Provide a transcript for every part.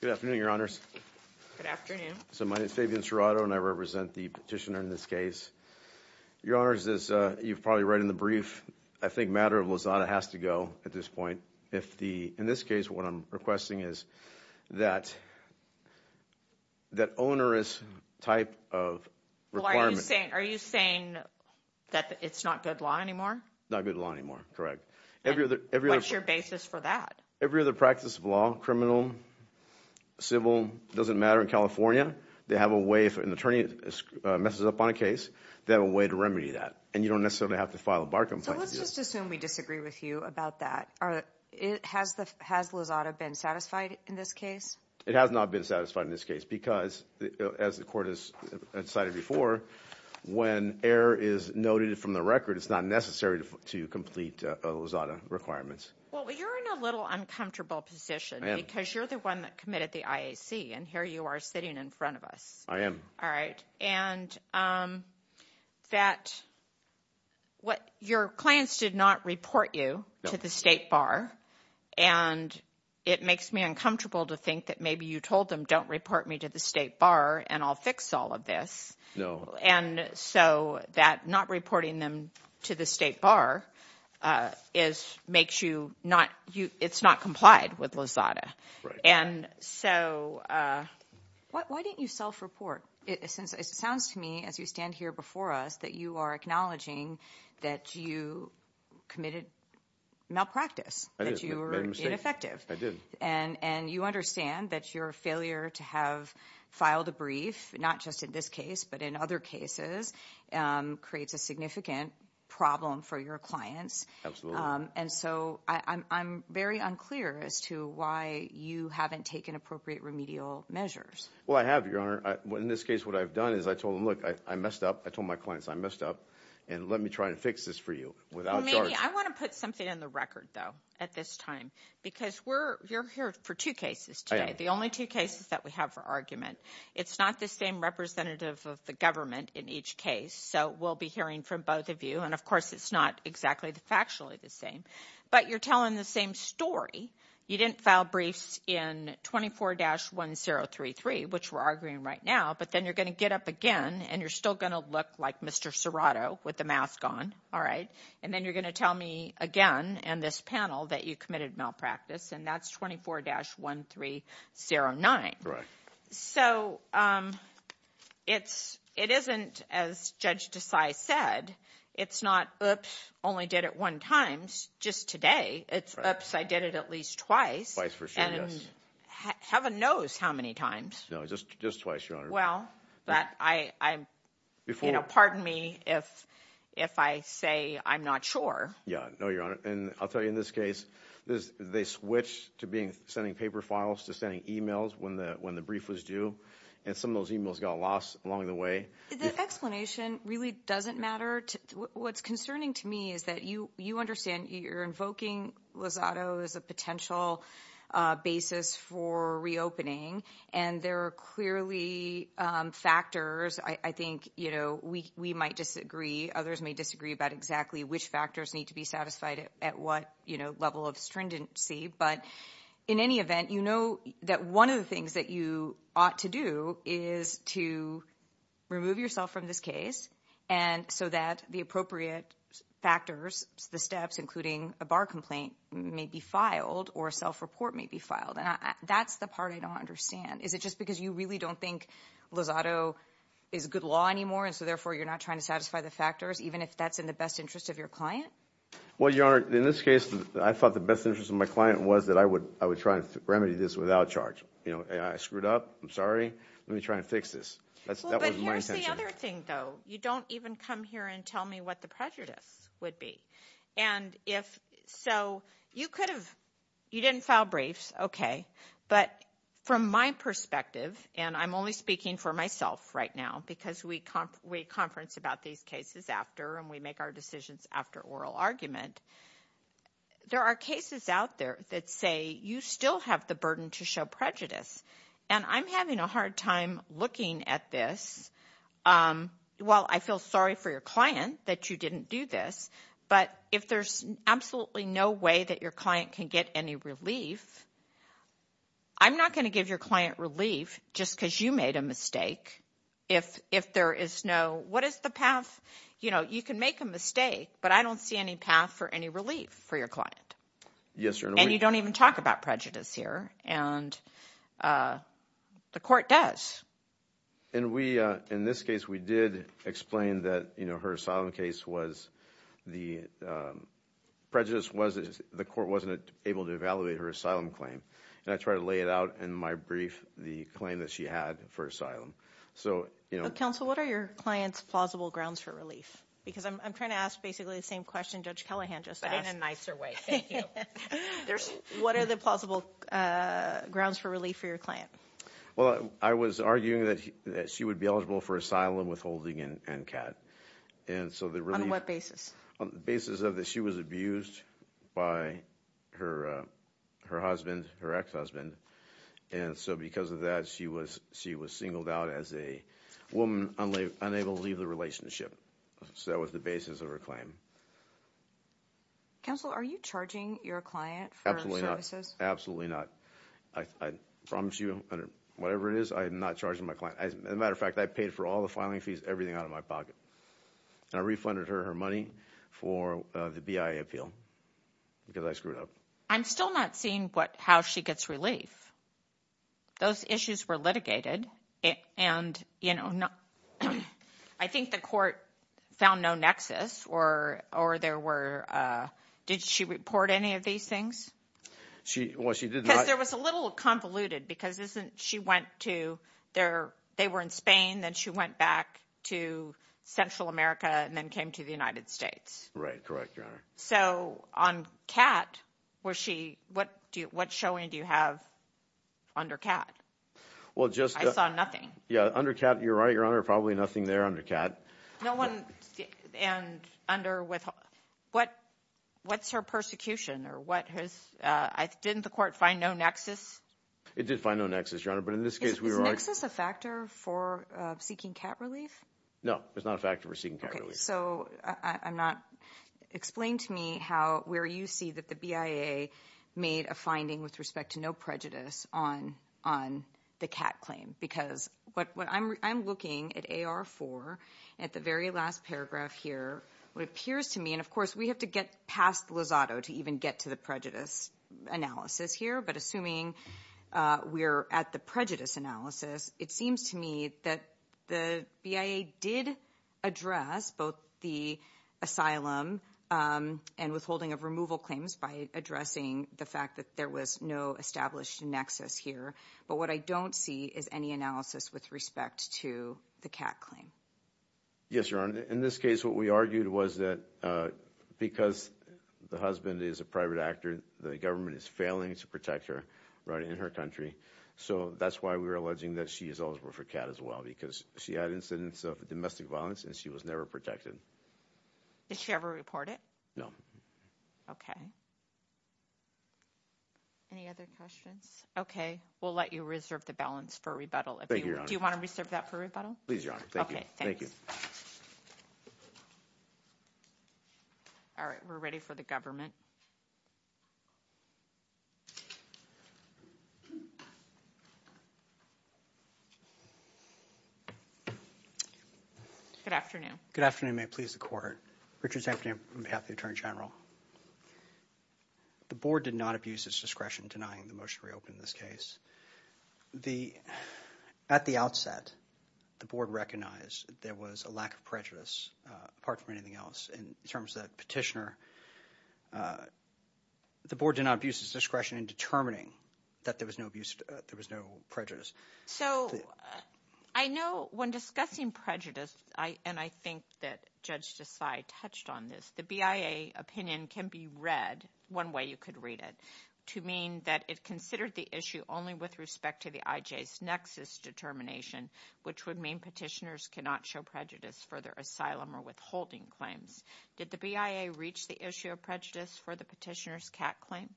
Good afternoon, Your Honors. Good afternoon. So my name is Fabian Serrato, and I represent the petitioner in this case. Your Honors, as you've probably read in the brief, I think matter of Lazada has to go at this point. In this case, what I'm requesting is that that onerous type of requirement What are you saying? Are you saying that it's not good law anymore? Not good law anymore, correct. What's your basis for that? Every other practice of law, criminal, civil, doesn't matter in California, they have a way if an attorney messes up on a case, they have a way to remedy that. And you don't necessarily have to file a bar complaint. So let's just assume we disagree with you about that. Has Lazada been satisfied in this case? It has not been satisfied in this case because, as the court has cited before, when error is noted from the record, it's not necessary to complete Lazada requirements. Well, you're in a little uncomfortable position because you're the one that committed the IAC, and here you are sitting in front of us. I am. All right. And that what your clients did not report you to the state bar. And it makes me uncomfortable to think that maybe you told them, don't report me to the state bar and I'll fix all of this. No. And so that not reporting them to the state bar is makes you not you. It's not complied with Lazada. And so why didn't you self-report? It sounds to me as you stand here before us that you are acknowledging that you committed malpractice, that you were ineffective. I did. And you understand that your failure to have filed a brief, not just in this case but in other cases, creates a significant problem for your clients. Absolutely. And so I'm very unclear as to why you haven't taken appropriate remedial measures. Well, I have, Your Honor. In this case, what I've done is I told them, look, I messed up. I told my clients I messed up, and let me try and fix this for you without charge. Well, maybe I want to put something in the record, though, at this time, because you're here for two cases today. I am. The only two cases that we have for argument. It's not the same representative of the government in each case. So we'll be hearing from both of you. And, of course, it's not exactly factually the same. But you're telling the same story. You didn't file briefs in 24-1033, which we're arguing right now. But then you're going to get up again, and you're still going to look like Mr. Serrato with the mask on. All right? And then you're going to tell me again and this panel that you committed malpractice, and that's 24-1309. Right. So it isn't, as Judge Desai said, it's not, oops, only did it one time, just today. It's, oops, I did it at least twice. Twice for sure, yes. And heaven knows how many times. No, just twice, Your Honor. Well, pardon me if I say I'm not sure. Yeah, no, Your Honor. And I'll tell you in this case, they switched to sending paper files to sending e-mails when the brief was due. And some of those e-mails got lost along the way. The explanation really doesn't matter. What's concerning to me is that you understand you're invoking Lozado as a potential basis for reopening. And there are clearly factors. I think, you know, we might disagree, others may disagree about exactly which factors need to be satisfied at what, you know, level of stringency. But in any event, you know that one of the things that you ought to do is to remove yourself from this case so that the appropriate factors, the steps including a bar complaint may be filed or a self-report may be filed. And that's the part I don't understand. Is it just because you really don't think Lozado is good law anymore, and so therefore you're not trying to satisfy the factors, even if that's in the best interest of your client? Well, Your Honor, in this case, I thought the best interest of my client was that I would try to remedy this without charge. You know, I screwed up. I'm sorry. Let me try and fix this. That wasn't my intention. Well, but here's the other thing, though. You don't even come here and tell me what the prejudice would be. And so you could have – you didn't file briefs, okay. But from my perspective, and I'm only speaking for myself right now because we conference about these cases after and we make our decisions after oral argument, there are cases out there that say you still have the burden to show prejudice. And I'm having a hard time looking at this. Well, I feel sorry for your client that you didn't do this, but if there's absolutely no way that your client can get any relief, I'm not going to give your client relief just because you made a mistake if there is no – what is the path? You know, you can make a mistake, but I don't see any path for any relief for your client. Yes, Your Honor. And you don't even talk about prejudice here, and the court does. And we – in this case, we did explain that, you know, her asylum case was the prejudice was – the court wasn't able to evaluate her asylum claim. And I tried to lay it out in my brief, the claim that she had for asylum. So, you know – Counsel, what are your client's plausible grounds for relief? Because I'm trying to ask basically the same question Judge Callahan just asked. But in a nicer way. Thank you. What are the plausible grounds for relief for your client? Well, I was arguing that she would be eligible for asylum, withholding, and CAD. And so the relief – On what basis? On the basis of that she was abused by her husband, her ex-husband. And so because of that, she was singled out as a woman unable to leave the relationship. So that was the basis of her claim. Counsel, are you charging your client for services? Absolutely not. I promise you, whatever it is, I am not charging my client. As a matter of fact, I paid for all the filing fees, everything out of my pocket. And I refunded her her money for the BIA appeal because I screwed up. I'm still not seeing how she gets relief. Those issues were litigated. And, you know, I think the court found no nexus or there were – did she report any of these things? Well, she did not – Because there was a little convoluted because she went to – they were in Spain. Then she went back to Central America and then came to the United States. Right, correct, Your Honor. So on CAD, was she – what showing do you have under CAD? Well, just – I saw nothing. Yeah, under CAD, you're right, Your Honor, probably nothing there under CAD. No one – and under – what's her persecution or what has – didn't the court find no nexus? It did find no nexus, Your Honor, but in this case we were – Is nexus a factor for seeking CAD relief? No, it's not a factor for seeking CAD relief. Okay, so I'm not – explain to me how – where you see that the BIA made a finding with respect to no prejudice on the CAD claim because what I'm looking at AR4 at the very last paragraph here, what appears to me – and, of course, we have to get past Lozado to even get to the prejudice analysis here. But assuming we're at the prejudice analysis, it seems to me that the BIA did address both the asylum and withholding of removal claims by addressing the fact that there was no established nexus here. But what I don't see is any analysis with respect to the CAD claim. Yes, Your Honor, in this case what we argued was that because the husband is a private actor, the government is failing to protect her right in her country, so that's why we were alleging that she is eligible for CAD as well because she had incidents of domestic violence and she was never protected. Did she ever report it? No. Okay. Any other questions? Okay. We'll let you reserve the balance for rebuttal. Thank you, Your Honor. Do you want to reserve that for rebuttal? Please, Your Honor. Thank you. Okay. Thanks. Thank you. All right. We're ready for the government. Good afternoon. Good afternoon. May it please the Court. Richard Zampanian on behalf of the Attorney General. The Board did not abuse its discretion denying the motion to reopen this case. At the outset, the Board recognized there was a lack of prejudice apart from anything else in terms of that petitioner. The Board did not abuse its discretion in determining that there was no prejudice. So I know when discussing prejudice, and I think that Judge Desai touched on this, the BIA opinion can be read, one way you could read it, to mean that it considered the issue only with respect to the IJ's nexus determination, which would mean petitioners cannot show prejudice for their asylum or withholding claims. Did the BIA reach the issue of prejudice for the petitioner's CAT claim?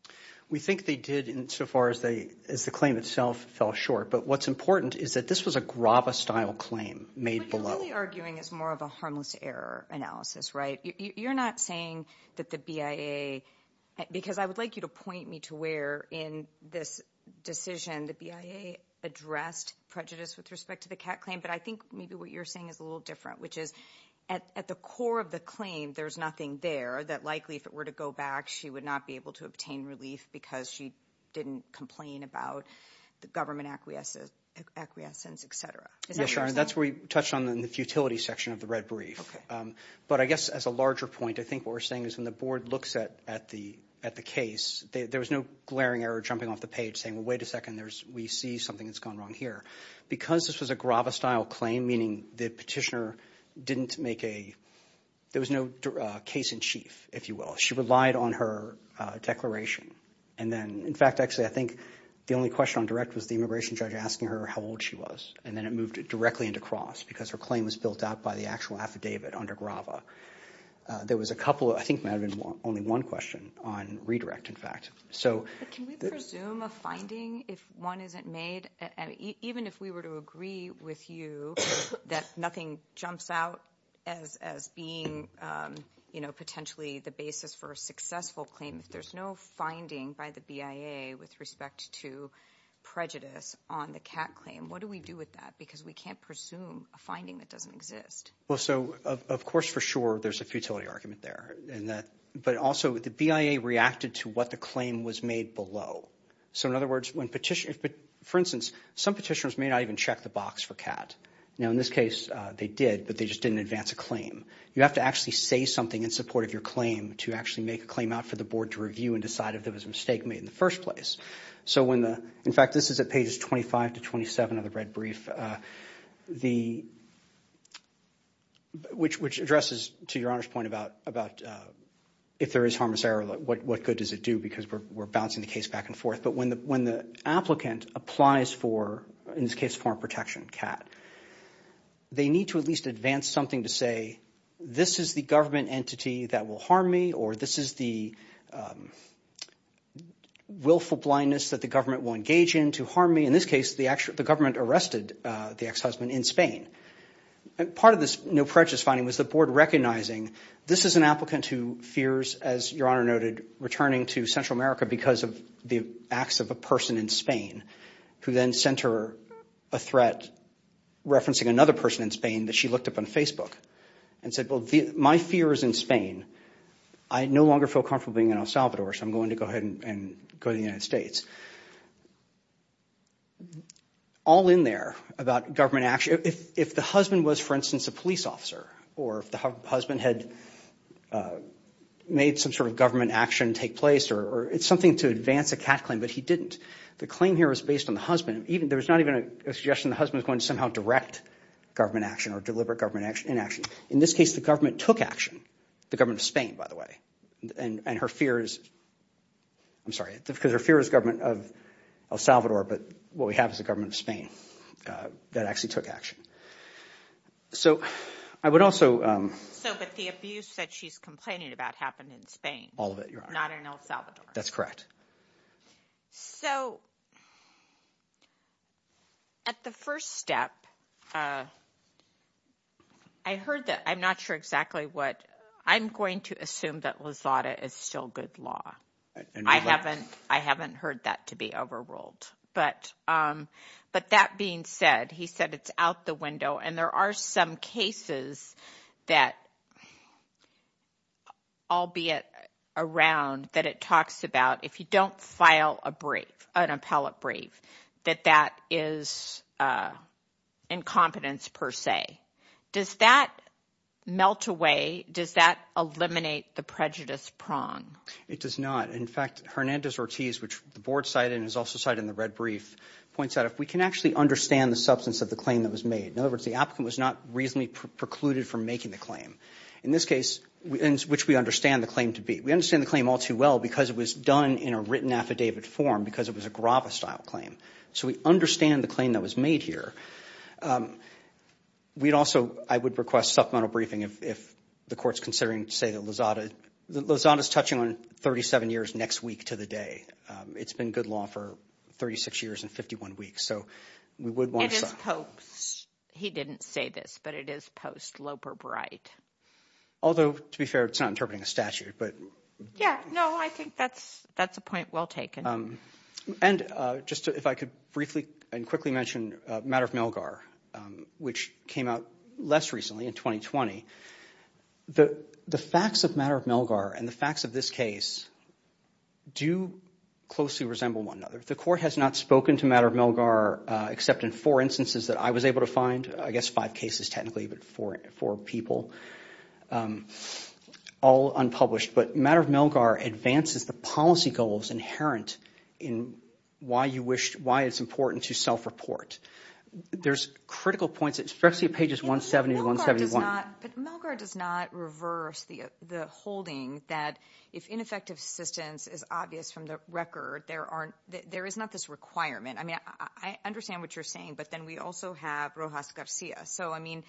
We think they did so far as the claim itself fell short. But what's important is that this was a Grava-style claim made below. What you're really arguing is more of a harmless error analysis, right? You're not saying that the BIA, because I would like you to point me to where in this decision the BIA addressed prejudice with respect to the CAT claim, but I think maybe what you're saying is a little different, which is at the core of the claim, there's nothing there that likely, if it were to go back, she would not be able to obtain relief because she didn't complain about the government acquiescence, et cetera. That's where you touched on the futility section of the red brief. Okay. But I guess as a larger point, I think what we're saying is when the board looks at the case, there was no glaring error jumping off the page saying, well, wait a second, we see something that's gone wrong here. Because this was a Grava-style claim, meaning the petitioner didn't make a – there was no case in chief, if you will. She relied on her declaration. And then, in fact, actually I think the only question on direct was the immigration judge asking her how old she was, and then it moved directly into Cross because her claim was built out by the actual affidavit under Grava. There was a couple – I think there might have been only one question on redirect, in fact. Can we presume a finding if one isn't made? Even if we were to agree with you that nothing jumps out as being potentially the basis for a successful claim, if there's no finding by the BIA with respect to prejudice on the CAT claim, what do we do with that because we can't presume a finding that doesn't exist? Well, so of course for sure there's a futility argument there, but also the BIA reacted to what the claim was made below. So in other words, when petitioners – for instance, some petitioners may not even check the box for CAT. Now, in this case, they did, but they just didn't advance a claim. You have to actually say something in support of your claim to actually make a claim out for the board to review and decide if there was a mistake made in the first place. So when the – in fact, this is at pages 25 to 27 of the red brief, which addresses to Your Honor's point about if there is harmless error, what good does it do because we're bouncing the case back and forth. But when the applicant applies for, in this case, foreign protection, CAT, they need to at least advance something to say this is the government entity that will harm me or this is the willful blindness that the government will engage in to harm me. In this case, the government arrested the ex-husband in Spain. Part of this no prejudice finding was the board recognizing this is an applicant who fears, as Your Honor noted, returning to Central America because of the acts of a person in Spain who then sent her a threat referencing another person in Spain that she looked up on Facebook and said, well, my fear is in Spain. I no longer feel comfortable being in El Salvador, so I'm going to go ahead and go to the United States. All in there about government – if the husband was, for instance, a police officer or if the husband had made some sort of government action take place or – it's something to advance a CAT claim, but he didn't. The claim here was based on the husband. There was not even a suggestion the husband was going to somehow direct government action or deliberate government inaction. In this case, the government took action, the government of Spain, by the way. And her fear is – I'm sorry, because her fear is the government of El Salvador, but what we have is the government of Spain that actually took action. So I would also – So but the abuse that she's complaining about happened in Spain. All of it, Your Honor. Not in El Salvador. That's correct. So at the first step, I heard that – I'm not sure exactly what – I'm going to assume that Lozada is still good law. I haven't heard that to be overruled. But that being said, he said it's out the window, and there are some cases that, albeit around, that it talks about, if you don't file a brief, an appellate brief, that that is incompetence per se. Does that melt away? Does that eliminate the prejudice prong? It does not. In fact, Hernandez-Ortiz, which the Board cited and has also cited in the red brief, points out if we can actually understand the substance of the claim that was made. In other words, the applicant was not reasonably precluded from making the claim, in this case, which we understand the claim to be. We understand the claim all too well because it was done in a written affidavit form because it was a Grava-style claim. So we understand the claim that was made here. We'd also – I would request supplemental briefing if the Court's considering, say, that Lozada – Lozada's touching on 37 years next week to the day. It's been good law for 36 years and 51 weeks, so we would want to stop. It is post – he didn't say this, but it is post-Loper Bright. Although, to be fair, it's not interpreting a statute, but – Yeah, no, I think that's a point well taken. And just if I could briefly and quickly mention Matter of Milgar, which came out less recently in 2020. The facts of Matter of Milgar and the facts of this case do closely resemble one another. The Court has not spoken to Matter of Milgar except in four instances that I was able to find – I guess five cases technically, but four people – all unpublished. But Matter of Milgar advances the policy goals inherent in why you wish – why it's important to self-report. There's critical points, especially at pages 170 to 171. But Milgar does not reverse the holding that if ineffective assistance is obvious from the record, there aren't – there is not this requirement. I mean, I understand what you're saying, but then we also have Rojas Garcia. So, I mean,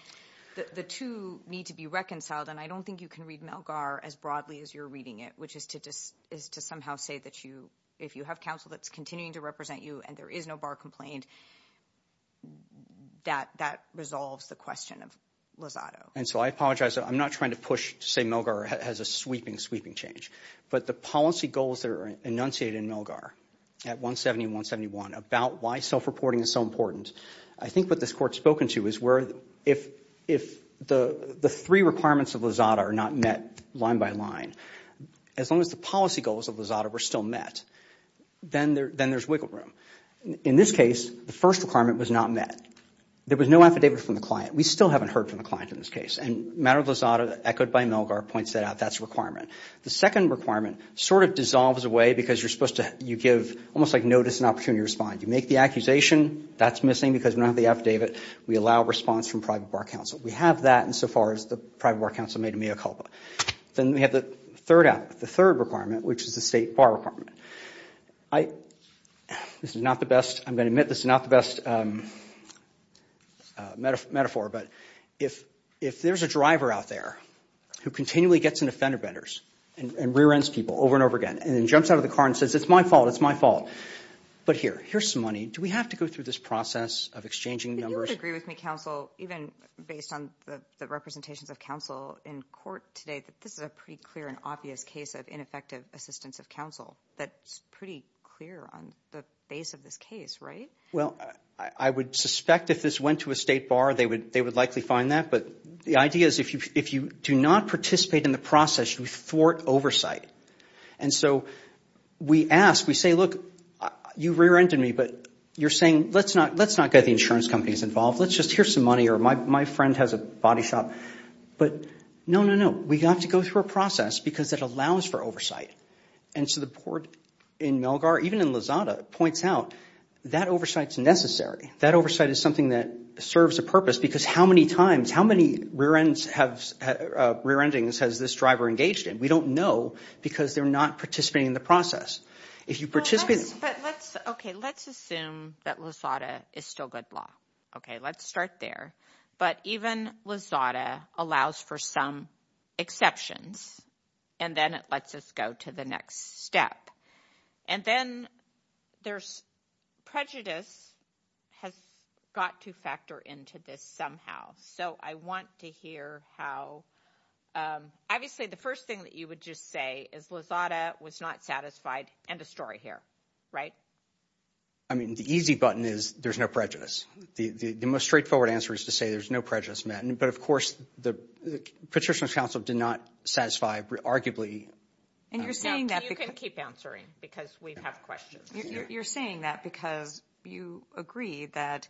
the two need to be reconciled, and I don't think you can read Milgar as broadly as you're reading it, which is to somehow say that you – if you have counsel that's continuing to represent you and there is no bar complaint, that resolves the question of Lozado. And so I apologize. I'm not trying to push to say Milgar has a sweeping, sweeping change. But the policy goals that are enunciated in Milgar at 170 and 171 about why self-reporting is so important, I think what this Court's spoken to is where if the three requirements of Lozado are not met line by line, as long as the policy goals of Lozado are still met, then there's wiggle room. In this case, the first requirement was not met. There was no affidavit from the client. We still haven't heard from the client in this case. And the matter of Lozado, echoed by Milgar, points that out. That's a requirement. The second requirement sort of dissolves away because you're supposed to – you give almost like notice and opportunity to respond. You make the accusation. That's missing because we don't have the affidavit. We allow response from private bar counsel. We have that insofar as the private bar counsel made a mea culpa. Then we have the third requirement, which is the state bar requirement. This is not the best – I'm going to admit this is not the best metaphor, but if there's a driver out there who continually gets into fender benders and rear-ends people over and over again and then jumps out of the car and says, it's my fault, it's my fault, but here, here's some money. Do we have to go through this process of exchanging numbers? You would agree with me, counsel, even based on the representations of counsel in court today, that this is a pretty clear and obvious case of ineffective assistance of counsel. That's pretty clear on the base of this case, right? Well, I would suspect if this went to a state bar, they would likely find that. But the idea is if you do not participate in the process, you thwart oversight. And so we ask, we say, look, you rear-ended me, but you're saying let's not get the insurance companies involved. Let's just – here's some money or my friend has a body shop. But no, no, no, we have to go through a process because it allows for oversight. And so the court in Melgar, even in Lozada, points out that oversight is necessary. That oversight is something that serves a purpose because how many times, how many rear-endings has this driver engaged in? We don't know because they're not participating in the process. If you participate – But let's – okay, let's assume that Lozada is still good law. Okay, let's start there. But even Lozada allows for some exceptions, and then it lets us go to the next step. And then there's prejudice has got to factor into this somehow. So I want to hear how – obviously, the first thing that you would just say is Lozada was not satisfied. End of story here, right? I mean, the easy button is there's no prejudice. The most straightforward answer is to say there's no prejudice, Matt. But, of course, the Petitioner's counsel did not satisfy arguably – And you're saying that because – You can keep answering because we have questions. You're saying that because you agree that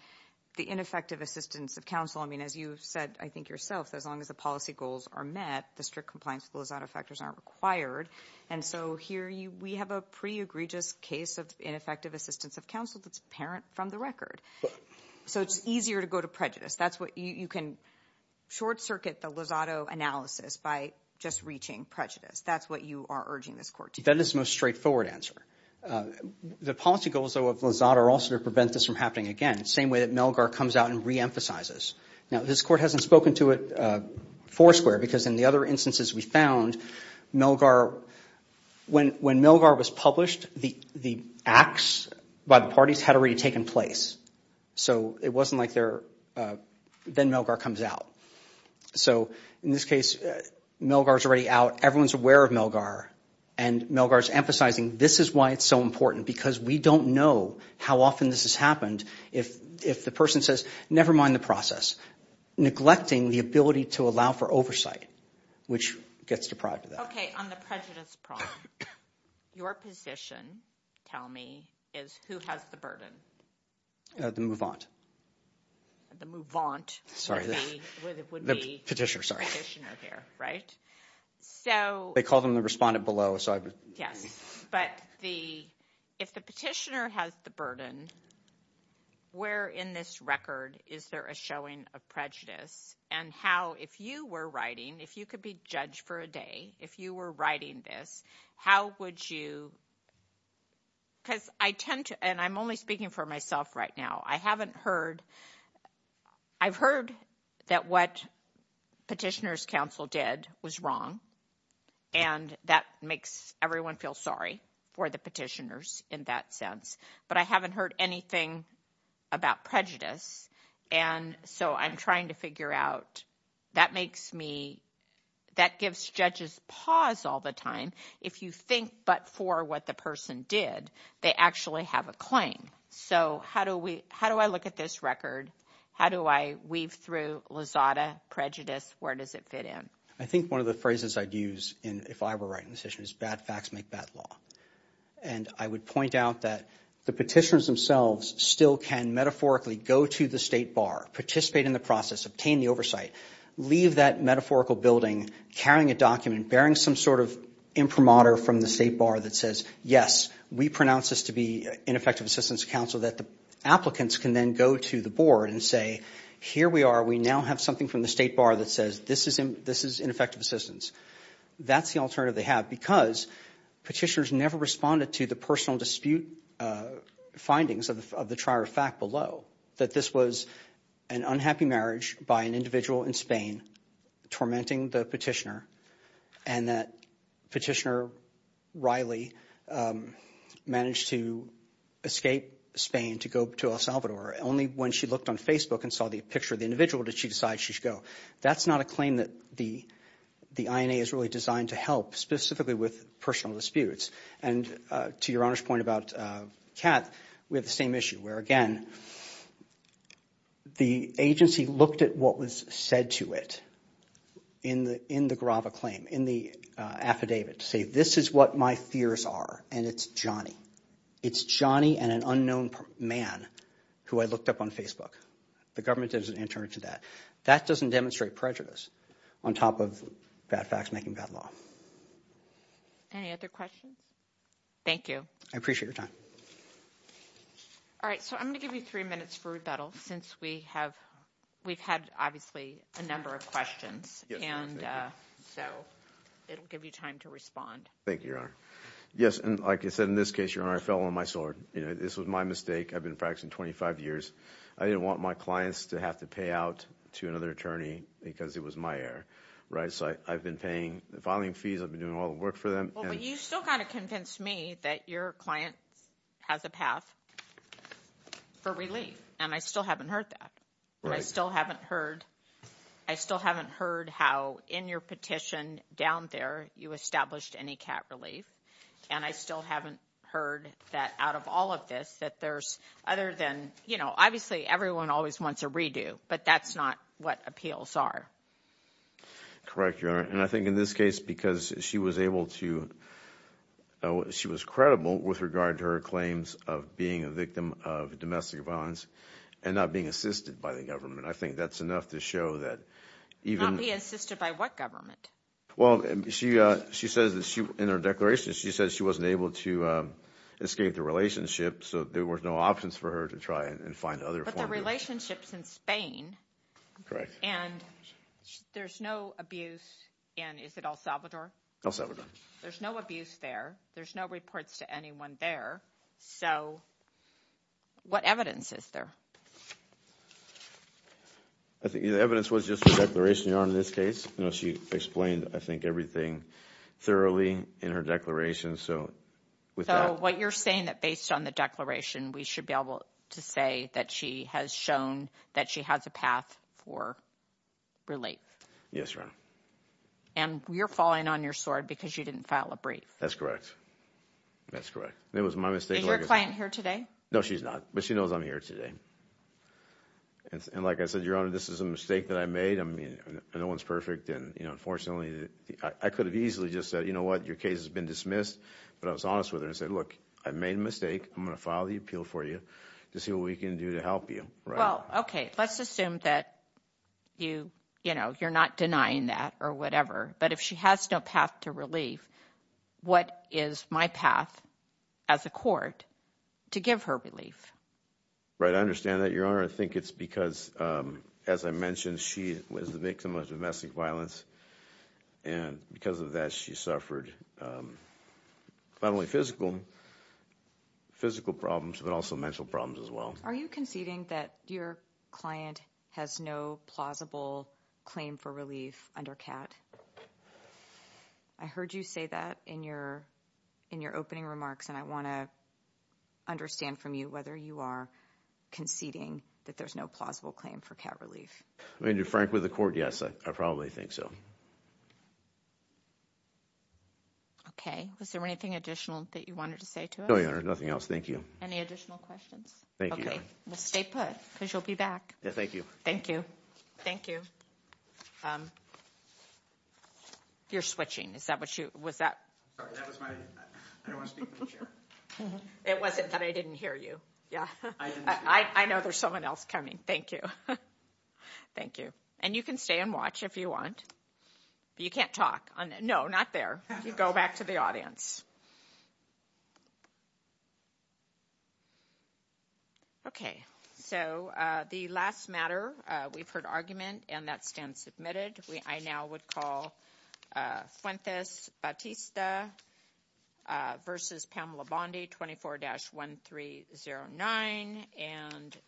the ineffective assistance of counsel – As you said, I think, yourself, as long as the policy goals are met, the strict compliance with the Lozada factors aren't required. And so here we have a pretty egregious case of ineffective assistance of counsel that's apparent from the record. So it's easier to go to prejudice. That's what – you can short-circuit the Lozada analysis by just reaching prejudice. That's what you are urging this Court to do. That is the most straightforward answer. The policy goals, though, of Lozada are also to prevent this from happening again, the same way that Melgar comes out and reemphasizes. Now, this Court hasn't spoken to it foursquare because in the other instances we found, Melgar – when Melgar was published, the acts by the parties had already taken place. So it wasn't like they're – then Melgar comes out. So in this case, Melgar's already out. Everyone's aware of Melgar, and Melgar's emphasizing this is why it's so important because we don't know how often this has happened if the person says, never mind the process, neglecting the ability to allow for oversight, which gets deprived of that. Okay, on the prejudice problem, your position, tell me, is who has the burden? The move-on. The move-on would be the petitioner here, right? They call them the respondent below. Yes, but the – if the petitioner has the burden, where in this record is there a showing of prejudice and how, if you were writing, if you could be judged for a day, if you were writing this, how would you – because I tend to – and I'm only speaking for myself right now. I haven't heard – I've heard that what petitioner's counsel did was wrong, and that makes everyone feel sorry for the petitioners in that sense. But I haven't heard anything about prejudice, and so I'm trying to figure out – that makes me – that gives judges pause all the time. If you think but for what the person did, they actually have a claim. So how do we – how do I look at this record? How do I weave through Lozada, prejudice, where does it fit in? I think one of the phrases I'd use if I were writing this issue is bad facts make bad law. And I would point out that the petitioners themselves still can metaphorically go to the state bar, participate in the process, obtain the oversight, leave that metaphorical building, carrying a document, bearing some sort of imprimatur from the state bar that says, yes, we pronounce this to be ineffective assistance to counsel, that the applicants can then go to the board and say, here we are. We now have something from the state bar that says this is ineffective assistance. That's the alternative they have because petitioners never responded to the personal dispute findings of the trial or fact below, that this was an unhappy marriage by an individual in Spain tormenting the petitioner, and that Petitioner Riley managed to escape Spain to go to El Salvador only when she looked on Facebook and saw the picture of the individual did she decide she should go. That's not a claim that the INA is really designed to help specifically with personal disputes. And to Your Honor's point about Kat, we have the same issue where, again, the agency looked at what was said to it in the Grava claim, in the affidavit, to say this is what my fears are, and it's Johnny. It's Johnny and an unknown man who I looked up on Facebook. The government doesn't answer to that. That doesn't demonstrate prejudice on top of bad facts making bad law. Any other questions? Thank you. I appreciate your time. All right. So I'm going to give you three minutes for rebuttal since we've had, obviously, a number of questions. And so it'll give you time to respond. Thank you, Your Honor. Yes, and like I said, in this case, Your Honor, I fell on my sword. This was my mistake. I've been practicing 25 years. I didn't want my clients to have to pay out to another attorney because it was my error, right? So I've been paying the filing fees. I've been doing all the work for them. Well, but you still got to convince me that your client has a path for relief, and I still haven't heard that. Right. I still haven't heard how in your petition down there you established any cap relief, and I still haven't heard that out of all of this that there's other than, you know, obviously everyone always wants a redo, but that's not what appeals are. Correct, Your Honor, and I think in this case because she was able to – she was credible with regard to her claims of being a victim of domestic violence and not being assisted by the government. I think that's enough to show that even – Not being assisted by what government? Well, she says that she – in her declaration, she says she wasn't able to escape the relationship, so there were no options for her to try and find other forms of – But the relationship's in Spain. Correct. And there's no abuse in – is it El Salvador? El Salvador. There's no abuse there. There's no reports to anyone there. So what evidence is there? I think the evidence was just the declaration, Your Honor, in this case. You know, she explained, I think, everything thoroughly in her declaration, so with that – So what you're saying, that based on the declaration, we should be able to say that she has shown that she has a path for relief? Yes, Your Honor. And you're falling on your sword because you didn't file a brief? That's correct. That's correct. It was my mistake. Is your client here today? No, she's not, but she knows I'm here today. And like I said, Your Honor, this is a mistake that I made. I mean, no one's perfect, and, you know, unfortunately, I could have easily just said, you know what, your case has been dismissed. But I was honest with her and said, look, I made a mistake. I'm going to file the appeal for you to see what we can do to help you. Well, okay, let's assume that you – you know, you're not denying that or whatever, but if she has no path to relief, what is my path as a court to give her relief? Right, I understand that, Your Honor. I think it's because, as I mentioned, she was the victim of domestic violence, and because of that, she suffered not only physical problems but also mental problems as well. Are you conceding that your client has no plausible claim for relief under CAT? I heard you say that in your opening remarks, and I want to understand from you whether you are conceding that there's no plausible claim for CAT relief. I mean, to be frank with the court, yes, I probably think so. Okay. Was there anything additional that you wanted to say to us? No, Your Honor, nothing else. Thank you. Any additional questions? Thank you, Your Honor. Okay, well, stay put because you'll be back. Thank you. Thank you. Thank you. You're switching. Is that what you – was that – Sorry, that was my – I don't want to speak in the chair. It wasn't that I didn't hear you. Yeah. I didn't speak. I know there's someone else coming. Thank you. Thank you. And you can stay and watch if you want. But you can't talk. No, not there. You go back to the audience. Okay, so the last matter, we've heard argument, and that stands submitted. I now would call Fuentes-Batista v. Pamela Bondi, 24-1309.